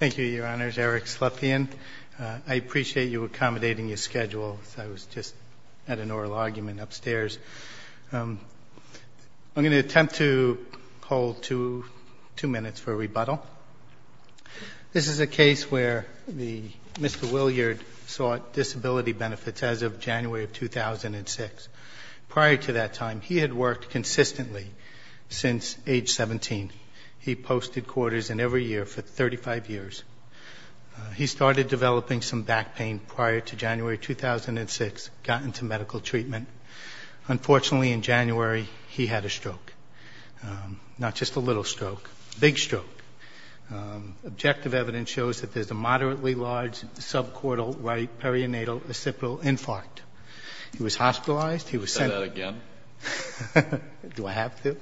Thank you, Your Honors. Eric Slepian. I appreciate you accommodating your schedule. I was just at an oral argument upstairs. I'm going to attempt to hold two minutes for rebuttal. This is a case where Mr. Willyard sought disability benefits as of January of 2006. Prior to that time, he had worked consistently since age 17. He posted quarters in every year for 35 years. He started developing some back pain prior to January 2006, got into medical treatment. Unfortunately, in January, he had a stroke, not just a little stroke, a big stroke. Objective evidence shows that there's a moderately large subcortical right perianatal occipital infarct. He was hospitalized. Do I have to?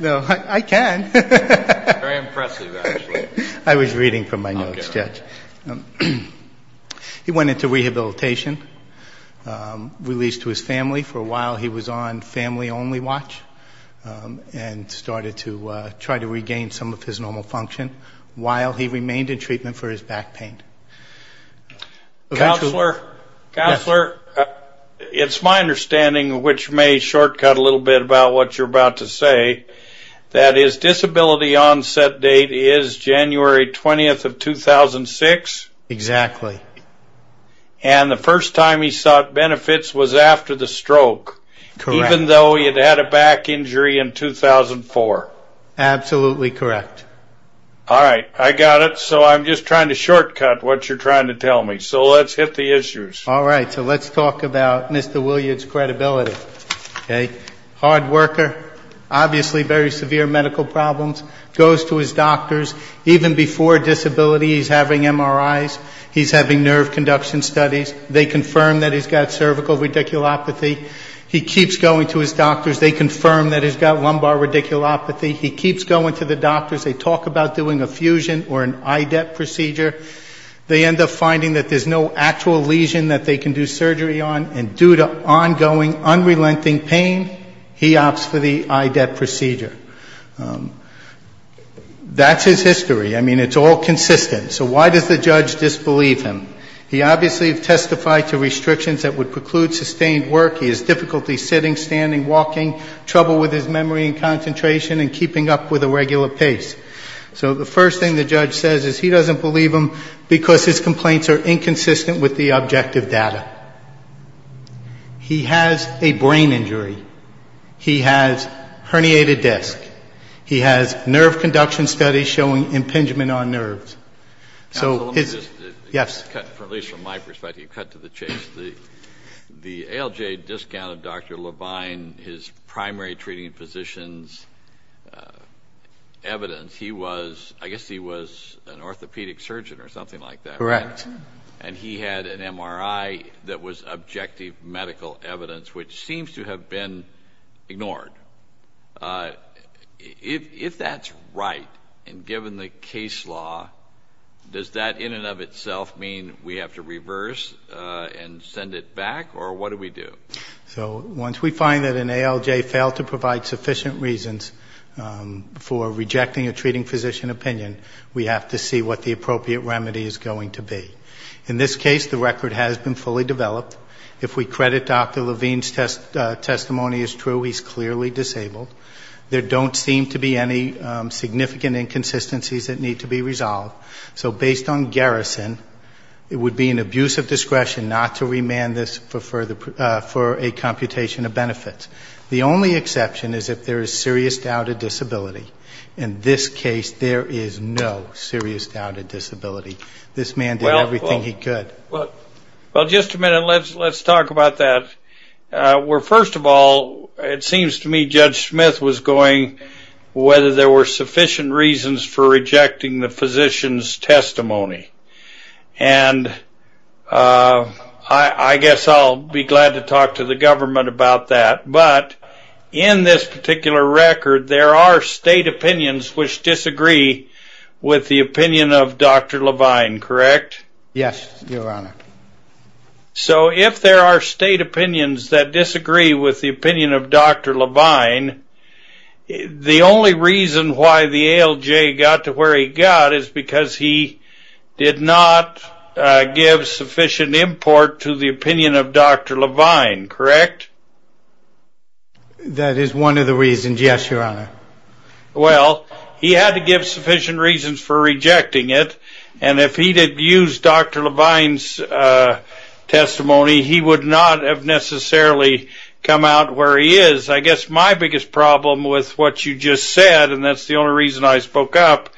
No, I can. Very impressive, actually. I was reading from my notes, Judge. He went into rehabilitation, released to his family. For a while, he was on family-only watch and started to try to regain some of his normal function while he remained in treatment for his back pain. Counselor, it's my understanding, which may shortcut a little bit about what you're about to say, that his disability onset date is January 20th of 2006. Exactly. And the first time he sought benefits was after the stroke, even though he'd had a back injury in 2004. Absolutely correct. All right. I got it. So I'm just trying to shortcut what you're trying to tell me. So let's hit the issues. All right. So let's talk about Mr. Williard's credibility. Okay. Hard worker. Obviously very severe medical problems. Goes to his doctors. Even before disability, he's having MRIs. He's having nerve conduction studies. They confirm that he's got cervical radiculopathy. He keeps going to his doctors. They confirm that he's got lumbar radiculopathy. He keeps going to the doctors. They talk about doing a fusion or an IDEP procedure. They end up finding that there's no actual lesion that they can do surgery on. And due to ongoing, unrelenting pain, he opts for the IDEP procedure. That's his history. I mean, it's all consistent. So why does the judge disbelieve him? He obviously has testified to restrictions that would preclude sustained work. He has difficulty sitting, standing, walking, trouble with his memory and concentration, and keeping up with a regular pace. So the first thing the judge says is he doesn't believe him because his complaints are inconsistent with the objective data. He has a brain injury. He has herniated disc. He has nerve conduction studies showing impingement on nerves. So his ‑‑ Let me just ‑‑ Yes. At least from my perspective, you cut to the chase. The ALJ discounted Dr. Levine, his primary treating physician's evidence. He was ‑‑ I guess he was an orthopedic surgeon or something like that. Correct. And he had an MRI that was objective medical evidence, which seems to have been ignored. If that's right, and given the case law, does that in and of itself mean we have to reverse and send it back, or what do we do? So once we find that an ALJ failed to provide sufficient reasons for rejecting a treating physician opinion, we have to see what the appropriate remedy is going to be. In this case, the record has been fully developed. If we credit Dr. Levine's testimony as true, he's clearly disabled. There don't seem to be any significant inconsistencies that need to be resolved. So based on garrison, it would be an abuse of discretion not to remand this for a computation of benefits. The only exception is if there is serious doubt of disability. In this case, there is no serious doubt of disability. This man did everything he could. Well, just a minute, let's talk about that. Well, first of all, it seems to me Judge Smith was going whether there were sufficient reasons for rejecting the physician's testimony. And I guess I'll be glad to talk to the government about that. But in this particular record, there are state opinions which disagree with the opinion of Dr. Levine, correct? Yes, Your Honor. So if there are state opinions that disagree with the opinion of Dr. Levine, the only reason why the ALJ got to where he got is because he did not give sufficient import to the opinion of Dr. Levine, correct? That is one of the reasons, yes, Your Honor. Well, he had to give sufficient reasons for rejecting it. And if he did use Dr. Levine's testimony, he would not have necessarily come out where he is. I guess my biggest problem with what you just said, and that's the only reason I spoke up,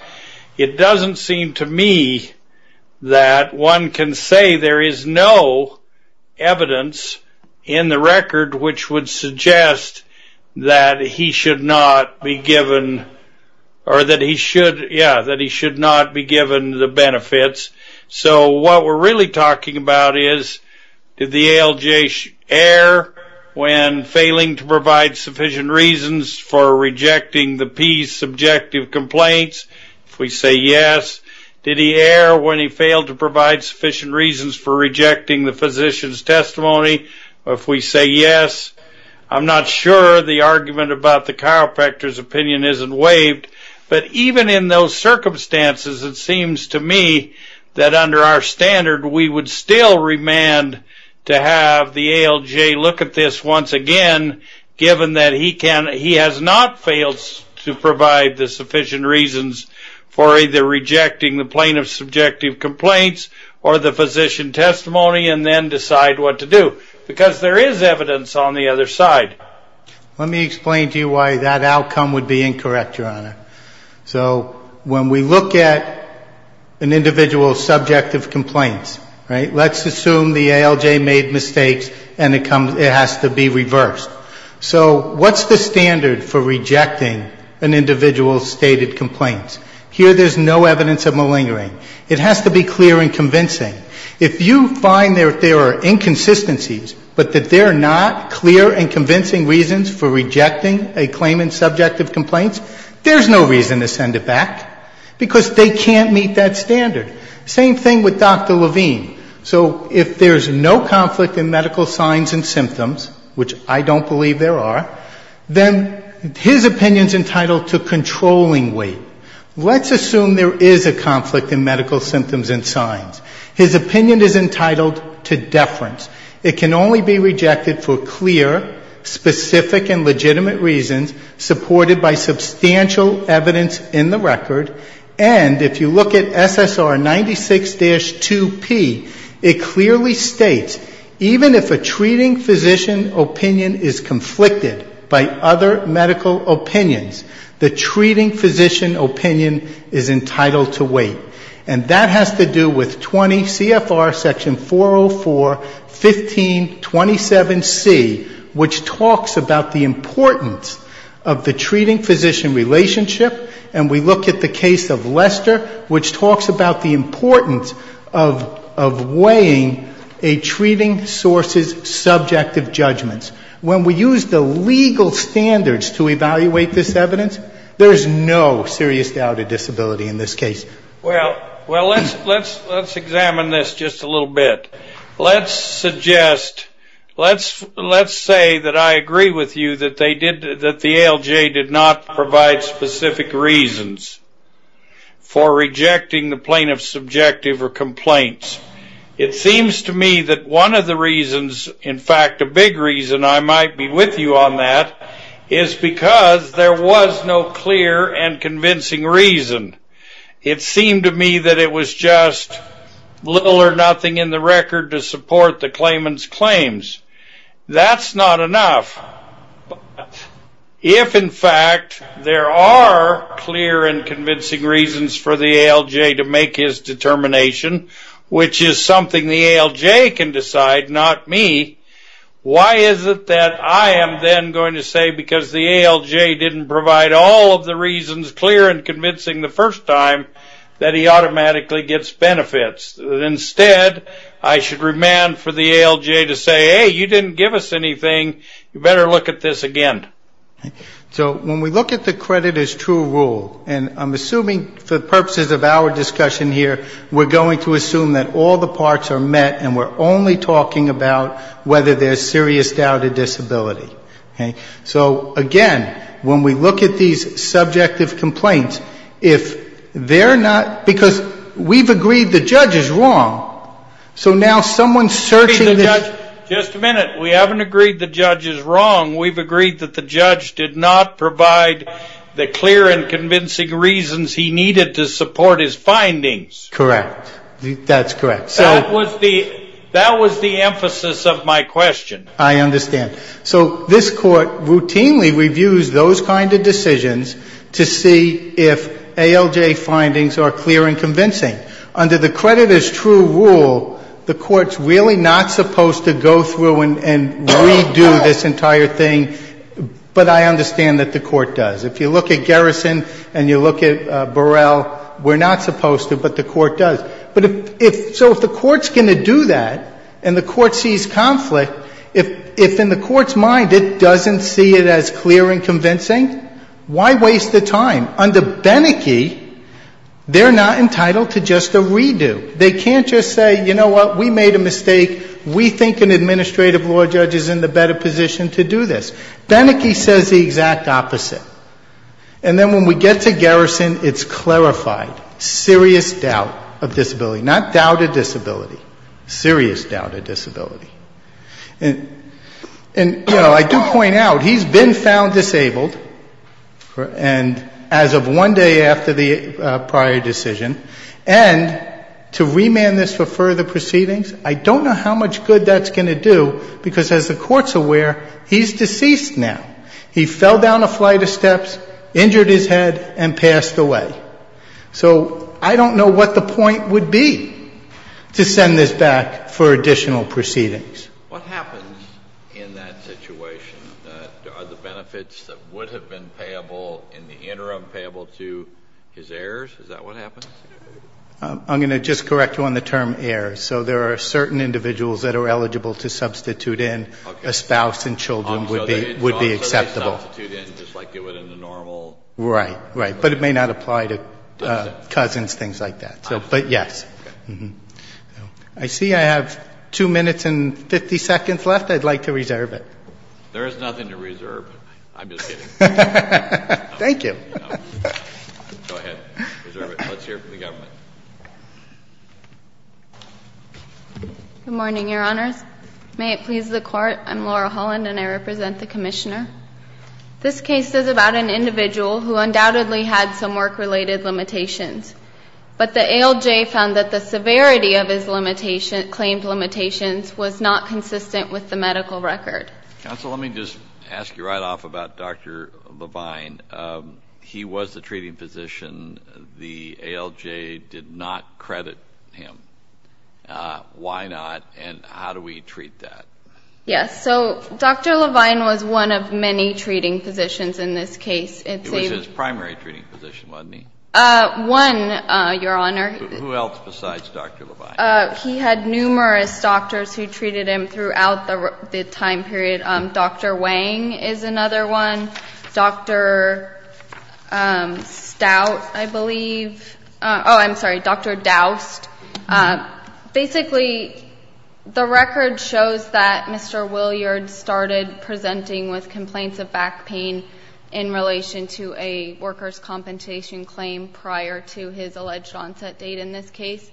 it doesn't seem to me that one can say there is no evidence in the record which would suggest that he should not be given the benefits. So what we're really talking about is, did the ALJ err when failing to provide sufficient reasons for rejecting the P's subjective complaints? If we say yes, did he err when he failed to provide sufficient reasons for rejecting the physician's testimony? If we say yes, I'm not sure the argument about the chiropractor's opinion isn't waived. But even in those circumstances, it seems to me that under our standard, we would still remand to have the ALJ look at this once again, given that he has not failed to provide the sufficient reasons for either rejecting the plaintiff's subjective complaints, or the physician's testimony, and then decide what to do. Because there is evidence on the other side. Let me explain to you why that outcome would be incorrect, Your Honor. So when we look at an individual's subjective complaints, right, let's assume the ALJ made mistakes and it has to be reversed. So what's the standard for rejecting an individual's stated complaints? Here there's no evidence of malingering. It has to be clear and convincing. If you find that there are inconsistencies, but that there are not clear and convincing reasons for rejecting a claimant's subjective complaints, there's no reason to send it back, because they can't meet that standard. Same thing with Dr. Levine. So if there's no conflict in medical signs and symptoms, which I don't believe there are, then his opinion's entitled to controlling weight. Let's assume there is a conflict in medical symptoms and signs. His opinion is entitled to deference. It can only be rejected for clear, specific, and legitimate reasons supported by substantial evidence in the record. And if you look at SSR 96-2P, it clearly states even if a treating physician opinion is conflicted by other medical opinions, the treating physician opinion is entitled to weight. And that has to do with 20 CFR section 404, 1527C, which talks about the importance of the treating physician relationship. And we look at the case of Lester, which talks about the importance of weighing a treating source's subjective judgments. When we use the legal standards to evaluate this evidence, there's no serious doubt of disability in this case. Well, let's examine this just a little bit. Let's suggest, let's say that I agree with you that the ALJ did not provide specific reasons for rejecting the plaintiff's subjective or complaints. It seems to me that one of the reasons, in fact a big reason I might be with you on that, is because there was no clear and convincing reason. It seemed to me that it was just little or nothing in the record to support the claimant's claims. That's not enough. If, in fact, there are clear and convincing reasons for the ALJ to make his determination, which is something the ALJ can decide, not me, why is it that I am then going to say because the ALJ didn't provide all of the reasons clear and convincing the first time that he automatically gets benefits? Instead, I should remand for the ALJ to say, hey, you didn't give us anything, you better look at this again. So when we look at the credit as true rule, and I'm assuming for the purposes of our discussion here, we're going to assume that all the parts are met and we're only talking about whether there's serious doubt of disability. So, again, when we look at these subjective complaints, if they're not, because we've agreed the judge is wrong, so now someone's searching. Just a minute. We haven't agreed the judge is wrong. We've agreed that the judge did not provide the clear and convincing reasons he needed to support his findings. Correct. That's correct. That was the emphasis of my question. I understand. So this Court routinely reviews those kind of decisions to see if ALJ findings are clear and convincing. Under the credit as true rule, the Court's really not supposed to go through and redo this entire thing, but I understand that the Court does. If you look at Garrison and you look at Burrell, we're not supposed to, but the Court does. So if the Court's going to do that and the Court sees conflict, if in the Court's mind it doesn't see it as clear and convincing, why waste the time? Under Beneke, they're not entitled to just a redo. They can't just say, you know what, we made a mistake. We think an administrative law judge is in the better position to do this. Beneke says the exact opposite. And then when we get to Garrison, it's clarified. Serious doubt of disability. Not doubted disability. Serious doubt of disability. And, you know, I do point out, he's been found disabled, and as of one day after the prior decision, and to remand this for further proceedings, I don't know how much good that's going to do, because as the Court's aware, he's deceased now. He fell down a flight of steps, injured his head, and passed away. So I don't know what the point would be to send this back for additional proceedings. What happens in that situation? Are the benefits that would have been payable in the interim payable to his heirs? Is that what happens? I'm going to just correct you on the term heirs. So there are certain individuals that are eligible to substitute in. A spouse and children would be acceptable. So they substitute in just like they would in the normal? Right, right. But it may not apply to cousins, things like that. But, yes. I see I have 2 minutes and 50 seconds left. I'd like to reserve it. There is nothing to reserve. I'm just kidding. Thank you. Go ahead. Reserve it. Let's hear from the government. Good morning, Your Honors. May it please the Court, I'm Laura Holland, and I represent the Commissioner. This case is about an individual who undoubtedly had some work-related limitations. But the ALJ found that the severity of his claimed limitations was not consistent with the medical record. Counsel, let me just ask you right off about Dr. Levine. He was the treating physician. The ALJ did not credit him. Why not? And how do we treat that? Yes, so Dr. Levine was one of many treating physicians in this case. It was his primary treating physician, wasn't he? One, Your Honor. Who else besides Dr. Levine? He had numerous doctors who treated him throughout the time period. Dr. Wang is another one. Dr. Stout, I believe. Oh, I'm sorry, Dr. Dowst. Basically, the record shows that Mr. Williard started presenting with complaints of back pain in relation to a worker's compensation claim prior to his alleged onset date in this case,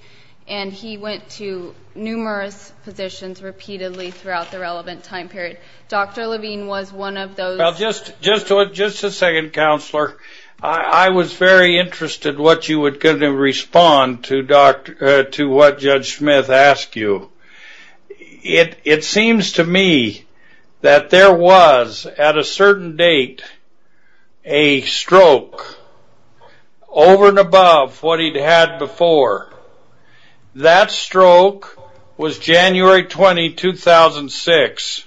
and he went to numerous physicians repeatedly throughout the relevant time period. Dr. Levine was one of those. Well, just a second, Counselor. I was very interested what you were going to respond to what Judge Smith asked you. It seems to me that there was, at a certain date, a stroke over and above what he'd had before. That stroke was January 20, 2006.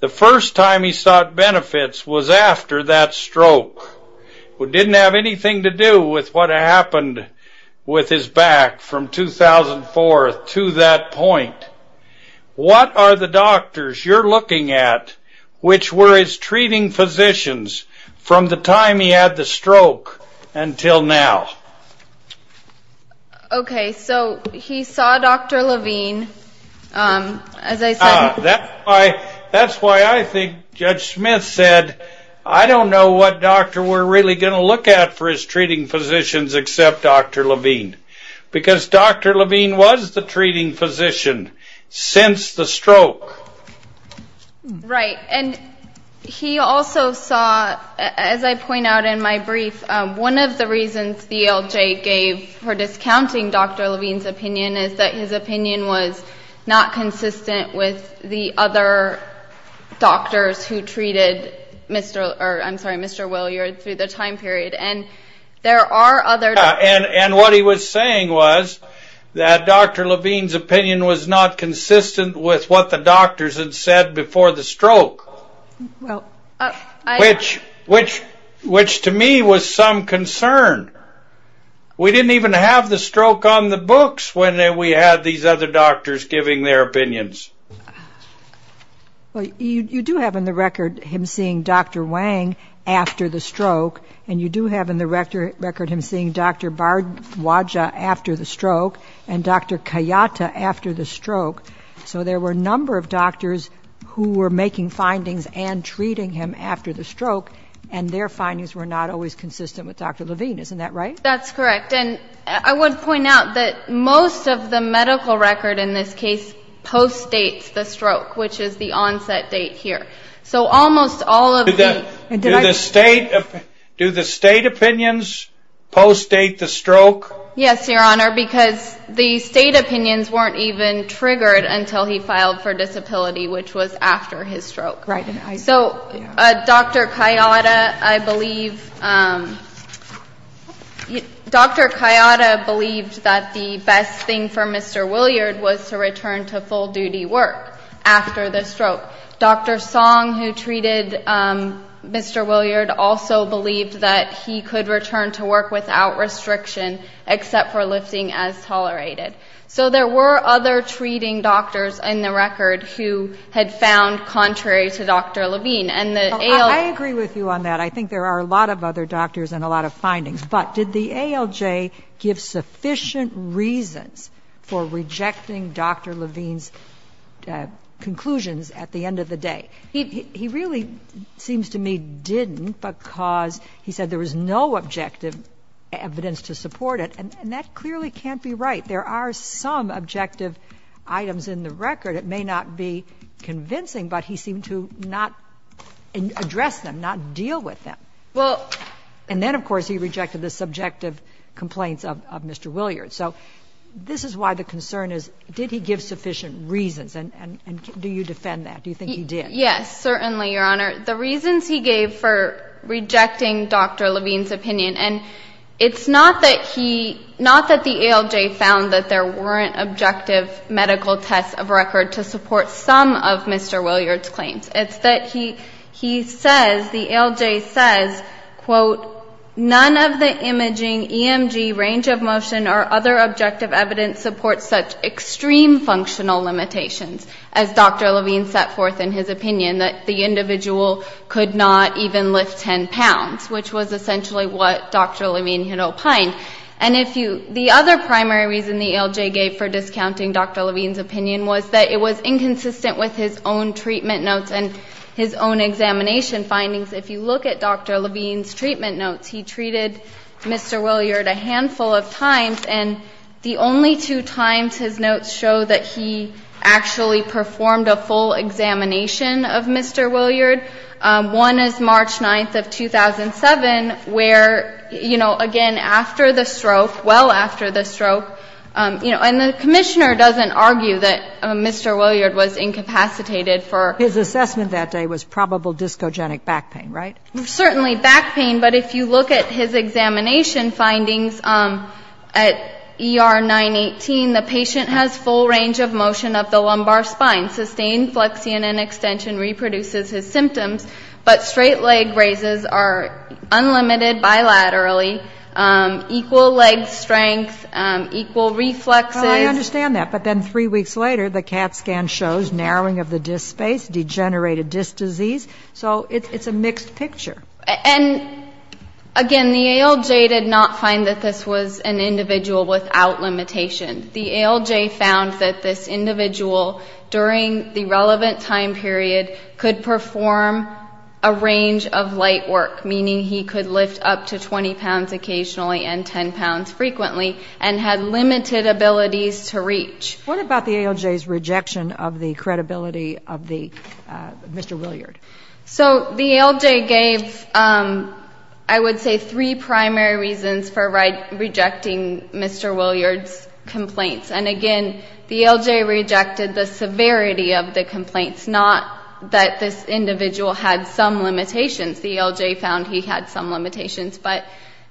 The first time he sought benefits was after that stroke. It didn't have anything to do with what happened with his back from 2004 to that point. What are the doctors you're looking at which were his treating physicians from the time he had the stroke until now? Okay, so he saw Dr. Levine. That's why I think Judge Smith said, I don't know what doctor we're really going to look at for his treating physicians except Dr. Levine, because Dr. Levine was the treating physician since the stroke. Right, and he also saw, as I point out in my brief, one of the reasons DLJ gave for discounting Dr. Levine's opinion is that his opinion was not consistent with the other doctors who treated Mr. Williard through the time period. And what he was saying was that Dr. Levine's opinion was not consistent with what the doctors had said before the stroke, which to me was some concern. We didn't even have the stroke on the books when we had these other doctors giving their opinions. Well, you do have in the record him seeing Dr. Wang after the stroke, and you do have in the record him seeing Dr. Bardwaja after the stroke and Dr. Kayata after the stroke. So there were a number of doctors who were making findings and treating him after the stroke, and their findings were not always consistent with Dr. Levine. Isn't that right? That's correct, and I would point out that most of the medical record in this case post-dates the stroke, which is the onset date here. So almost all of the... Do the state opinions post-date the stroke? Yes, Your Honor, because the state opinions weren't even triggered until he filed for disability, which was after his stroke. Right. So Dr. Kayata, I believe, Dr. Kayata believed that the best thing for Mr. Williard was to return to full-duty work after the stroke. Dr. Song, who treated Mr. Williard, also believed that he could return to work without restriction, except for lifting as tolerated. So there were other treating doctors in the record who had found contrary to Dr. Levine, and the ALJ... I agree with you on that. I think there are a lot of other doctors and a lot of findings, but did the ALJ give sufficient reasons for rejecting Dr. Levine's conclusions at the end of the day? He really seems to me didn't because he said there was no objective evidence to support it, and that clearly can't be right. There are some objective items in the record. It may not be convincing, but he seemed to not address them, not deal with them. Well... And then, of course, he rejected the subjective complaints of Mr. Williard. So this is why the concern is did he give sufficient reasons, and do you defend that? Do you think he did? Yes, certainly, Your Honor. The reasons he gave for rejecting Dr. Levine's opinion, and it's not that he – not that the ALJ found that there weren't objective medical tests of record to support some of Mr. Williard's claims. It's that he says, the ALJ says, quote, none of the imaging, EMG, range of motion, or other objective evidence supports such extreme functional limitations, as Dr. Levine set forth in his opinion, that the individual could not even lift 10 pounds, which was essentially what Dr. Levine had opined. And if you – the other primary reason the ALJ gave for discounting Dr. Levine's opinion was that it was inconsistent with his own treatment notes and his own examination findings. If you look at Dr. Levine's treatment notes, he treated Mr. Williard a handful of times, and the only two times his notes show that he actually performed a full examination of Mr. Williard, one is March 9th of 2007, where, you know, again, after the stroke, well after the stroke, you know, and the commissioner doesn't argue that Mr. Williard was incapacitated for ‑‑ His assessment that day was probable discogenic back pain, right? Certainly back pain, but if you look at his examination findings at ER 918, the patient has full range of motion of the lumbar spine, sustained flexion and extension reproduces his symptoms, but straight leg raises are unlimited bilaterally, equal leg strength, equal reflexes. Well, I understand that, but then three weeks later, the CAT scan shows narrowing of the disc space, degenerated disc disease, so it's a mixed picture. And again, the ALJ did not find that this was an individual without limitation. The ALJ found that this individual during the relevant time period could perform a range of light work, meaning he could lift up to 20 pounds occasionally and 10 pounds frequently and had limited abilities to reach. What about the ALJ's rejection of the credibility of Mr. Williard? So the ALJ gave, I would say, three primary reasons for rejecting Mr. Williard's complaints. And again, the ALJ rejected the severity of the complaints, not that this individual had some limitations. The ALJ found he had some limitations, but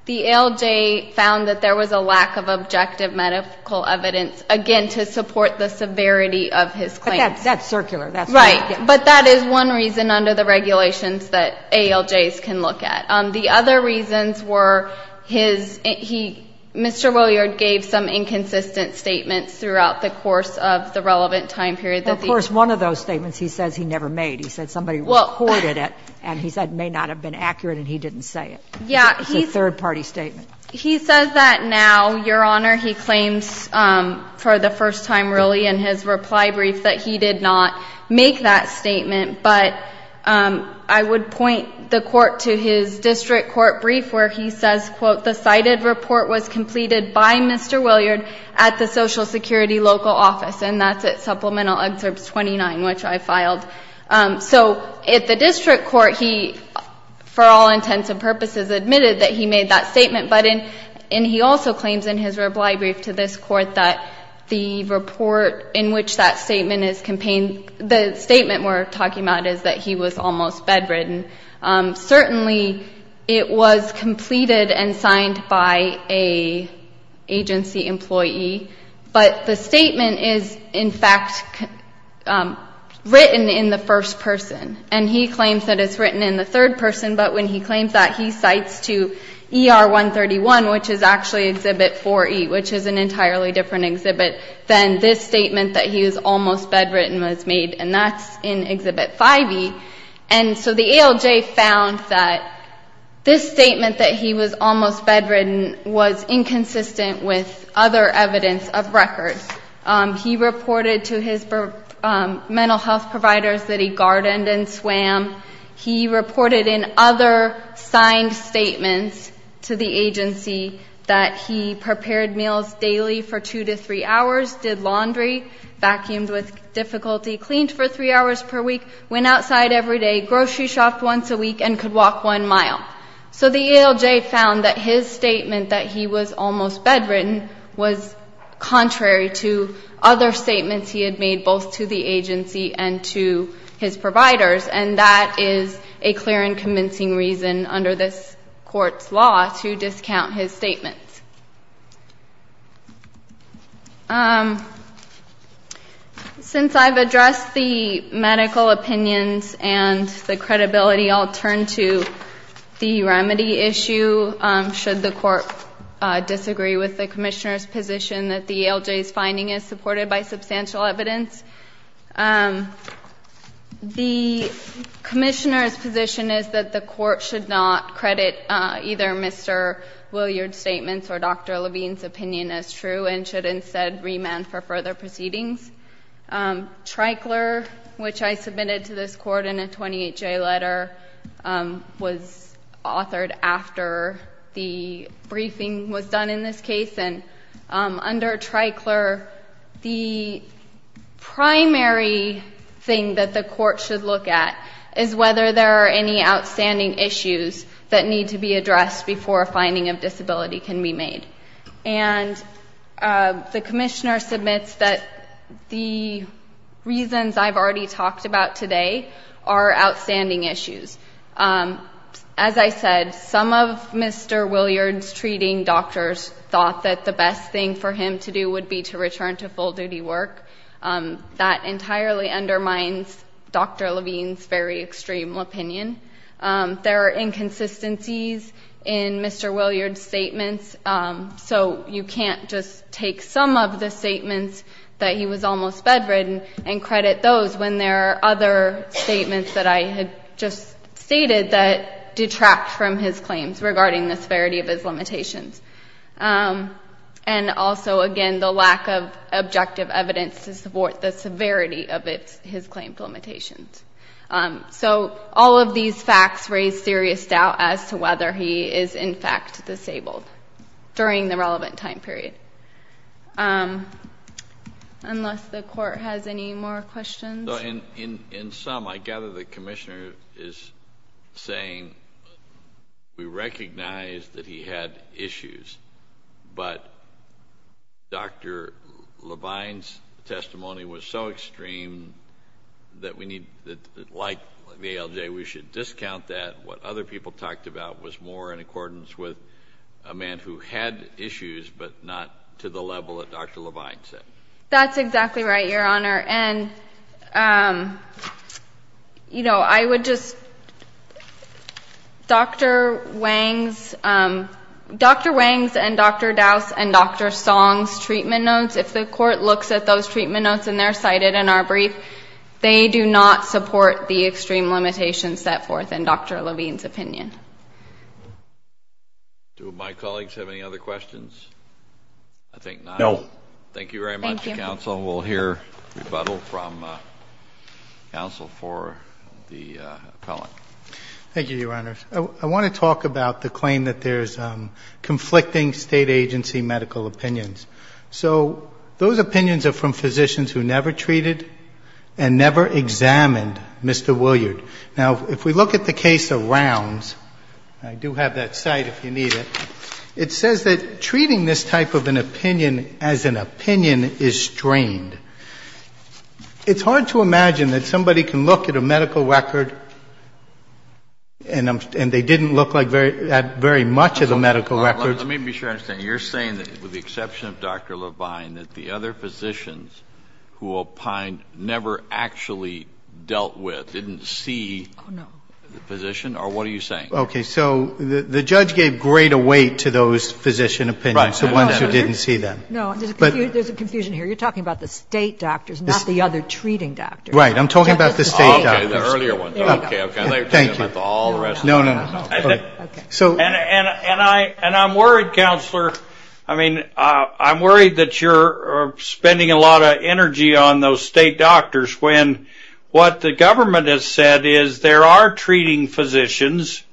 the ALJ found that there was a lack of objective medical evidence, again, to support the severity of his claims. That's circular. Right. But that is one reason under the regulations that ALJs can look at. The other reasons were his, he, Mr. Williard gave some inconsistent statements throughout the course of the relevant time period. Of course, one of those statements he says he never made. He said somebody recorded it, and he said it may not have been accurate, and he didn't say it. Yeah. It's a third-party statement. He says that now, Your Honor. He claims for the first time, really, in his reply brief that he did not make that statement. But I would point the Court to his district court brief where he says, quote, the cited report was completed by Mr. Williard at the Social Security local office. And that's at Supplemental Excerpt 29, which I filed. So at the district court, he, for all intents and purposes, admitted that he made that statement. But in, and he also claims in his reply brief to this Court that the report in which that statement is campaigned, the statement we're talking about is that he was almost bedridden. Certainly, it was completed and signed by an agency employee. But the statement is, in fact, written in the first person. And he claims that it's written in the third person. But when he claims that, he cites to ER 131, which is actually Exhibit 4E, which is an entirely different exhibit, than this statement that he was almost bedridden was made, and that's in Exhibit 5E. And so the ALJ found that this statement that he was almost bedridden was inconsistent with other evidence of records. He reported to his mental health providers that he gardened and swam. He reported in other signed statements to the agency that he prepared meals daily for two to three hours, did laundry, vacuumed with difficulty, cleaned for three hours per week, went outside every day, grocery shopped once a week, and could walk one mile. So the ALJ found that his statement that he was almost bedridden was contrary to other statements he had made, both to the agency and to his providers, and that is a clear and convincing reason under this Court's law to discount his statements. Since I've addressed the medical opinions and the credibility, I'll turn to the remedy issue. Should the Court disagree with the Commissioner's position that the ALJ's finding is supported by substantial evidence? The Commissioner's position is that the Court should not credit either Mr. Williard's statements or Dr. Levine's opinion as true and should instead remand for further proceedings. Tricler, which I submitted to this Court in a 28-J letter, was authored after the briefing was done in this case. And under Tricler, the primary thing that the Court should look at is whether there are any outstanding issues that need to be addressed before a finding of disability can be made. And the Commissioner submits that the reasons I've already talked about today are outstanding issues. As I said, some of Mr. Williard's treating doctors thought that the best thing for him to do would be to return to full-duty work. That entirely undermines Dr. Levine's very extreme opinion. There are inconsistencies in Mr. Williard's statements, so you can't just take some of the statements that he was almost bedridden and credit those when there are other statements that I had just stated that detract from his claims regarding the severity of his limitations. And also, again, the lack of objective evidence to support the severity of his claimed limitations. So all of these facts raise serious doubt as to whether he is in fact disabled during the relevant time period. Unless the Court has any more questions? In sum, I gather the Commissioner is saying we recognize that he had issues, but Dr. Levine's testimony was so extreme that, like the ALJ, we should discount that. What other people talked about was more in accordance with a man who had issues, but not to the level that Dr. Levine said. That's exactly right, Your Honor. And, you know, I would just – Dr. Wang's – Dr. Wang's and Dr. Dowse's and Dr. Song's treatment notes, if the Court looks at those treatment notes and they're cited in our brief, they do not support the extreme limitations set forth in Dr. Levine's opinion. Do my colleagues have any other questions? I think not. No. Thank you very much, counsel. We'll hear rebuttal from counsel for the appellant. Thank you, Your Honor. I want to talk about the claim that there's conflicting State agency medical opinions. So those opinions are from physicians who never treated and never examined Mr. Williard. Now, if we look at the case of Rounds – I do have that cite if you need it – it says that treating this type of an opinion as an opinion is strained. It's hard to imagine that somebody can look at a medical record and they didn't look like that very much of a medical record. Let me be sure I understand. You're saying that, with the exception of Dr. Levine, that the other physicians who opined never actually dealt with, didn't see the physician, or what are you saying? Okay. So the judge gave greater weight to those physician opinions, the ones who didn't see them. No. There's a confusion here. You're talking about the State doctors, not the other treating doctors. Right. I'm talking about the State doctors. Okay. The earlier ones. Okay. Thank you. No, no, no. Okay. And I'm worried, Counselor, I mean, I'm worried that you're spending a lot of energy on those State doctors when what the government has said is there are treating physicians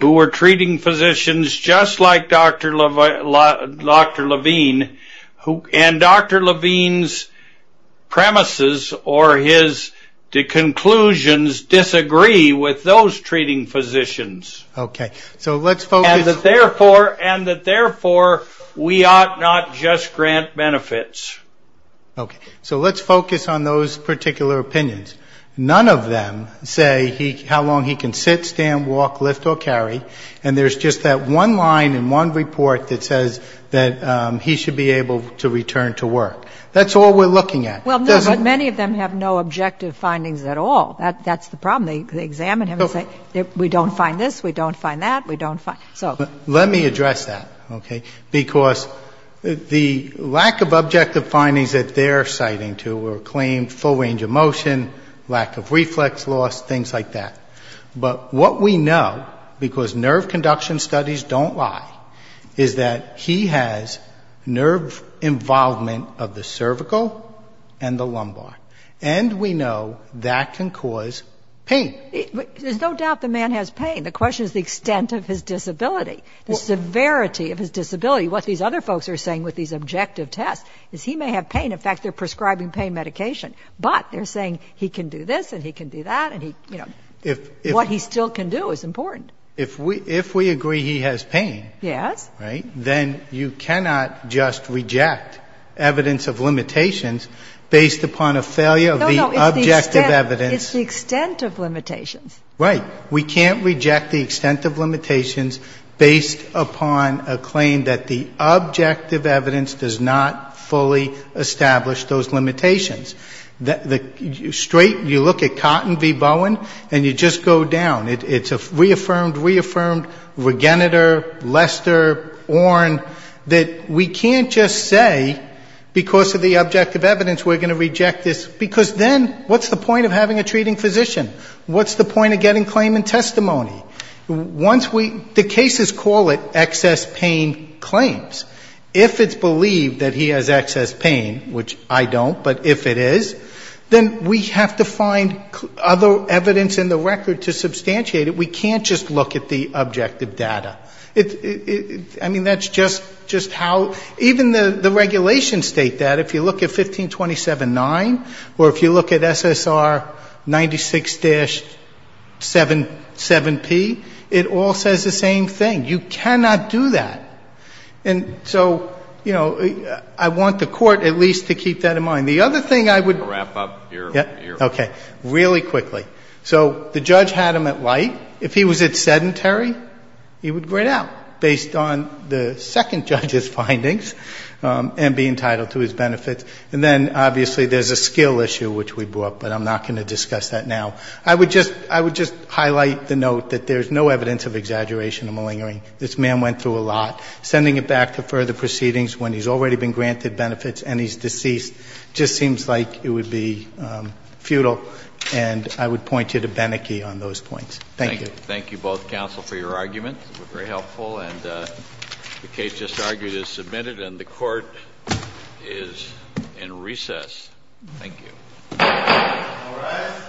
who are treating physicians just like Dr. Levine, and Dr. Levine's premises or his conclusions disagree with those treating physicians. Okay. So let's focus... And that, therefore, we ought not just grant benefits. Okay. So let's focus on those particular opinions. None of them say how long he can sit, stand, walk, lift, or carry. And there's just that one line in one report that says that he should be able to return to work. That's all we're looking at. Well, no, but many of them have no objective findings at all. That's the problem. They examine him and say we don't find this, we don't find that, we don't find... Let me address that, okay, because the lack of objective findings that they're citing to are claimed full range of motion, lack of reflex loss, things like that. But what we know, because nerve conduction studies don't lie, is that he has nerve involvement of the cervical and the lumbar. And we know that can cause pain. There's no doubt the man has pain. The question is the extent of his disability, the severity of his disability. What these other folks are saying with these objective tests is he may have pain. In fact, they're prescribing pain medication. But they're saying he can do this and he can do that and, you know, what he still can do is important. If we agree he has pain, right, then you cannot just reject evidence of limitations based upon a failure of the objective evidence. No, no, it's the extent of limitations. Right. We can't reject the extent of limitations based upon a claim that the objective evidence does not fully establish those limitations. The straight, you look at Cotton v. Bowen and you just go down. It's a reaffirmed, reaffirmed, Regeneter, Lester, Orn, that we can't just say because of the objective evidence we're going to reject this, because then what's the point of having a treating physician? What's the point of getting claim and testimony? Once we, the cases call it excess pain claims. If it's believed that he has excess pain, which I don't, but if it is, then we have to find other evidence in the record to substantiate it. We can't just look at the objective data. I mean, that's just how, even the regulations state that. If you look at 1527.9 or if you look at SSR 96-77P, it all says the same thing. You cannot do that. And so, you know, I want the Court at least to keep that in mind. The other thing I would. Wrap up your. Okay. Really quickly. So the judge had him at light. If he was at sedentary, he would grin out based on the second judge's findings and be entitled to his benefits. And then, obviously, there's a skill issue, which we brought, but I'm not going to discuss that now. I would just highlight the note that there's no evidence of exaggeration or malingering. This man went through a lot. Sending it back to further proceedings when he's already been granted benefits and he's deceased just seems like it would be futile. And I would point you to Beneke on those points. Thank you. Thank you both, counsel, for your argument. It was very helpful. And the case just argued is submitted and the Court is in recess. Thank you. All rise. This court is adjourned.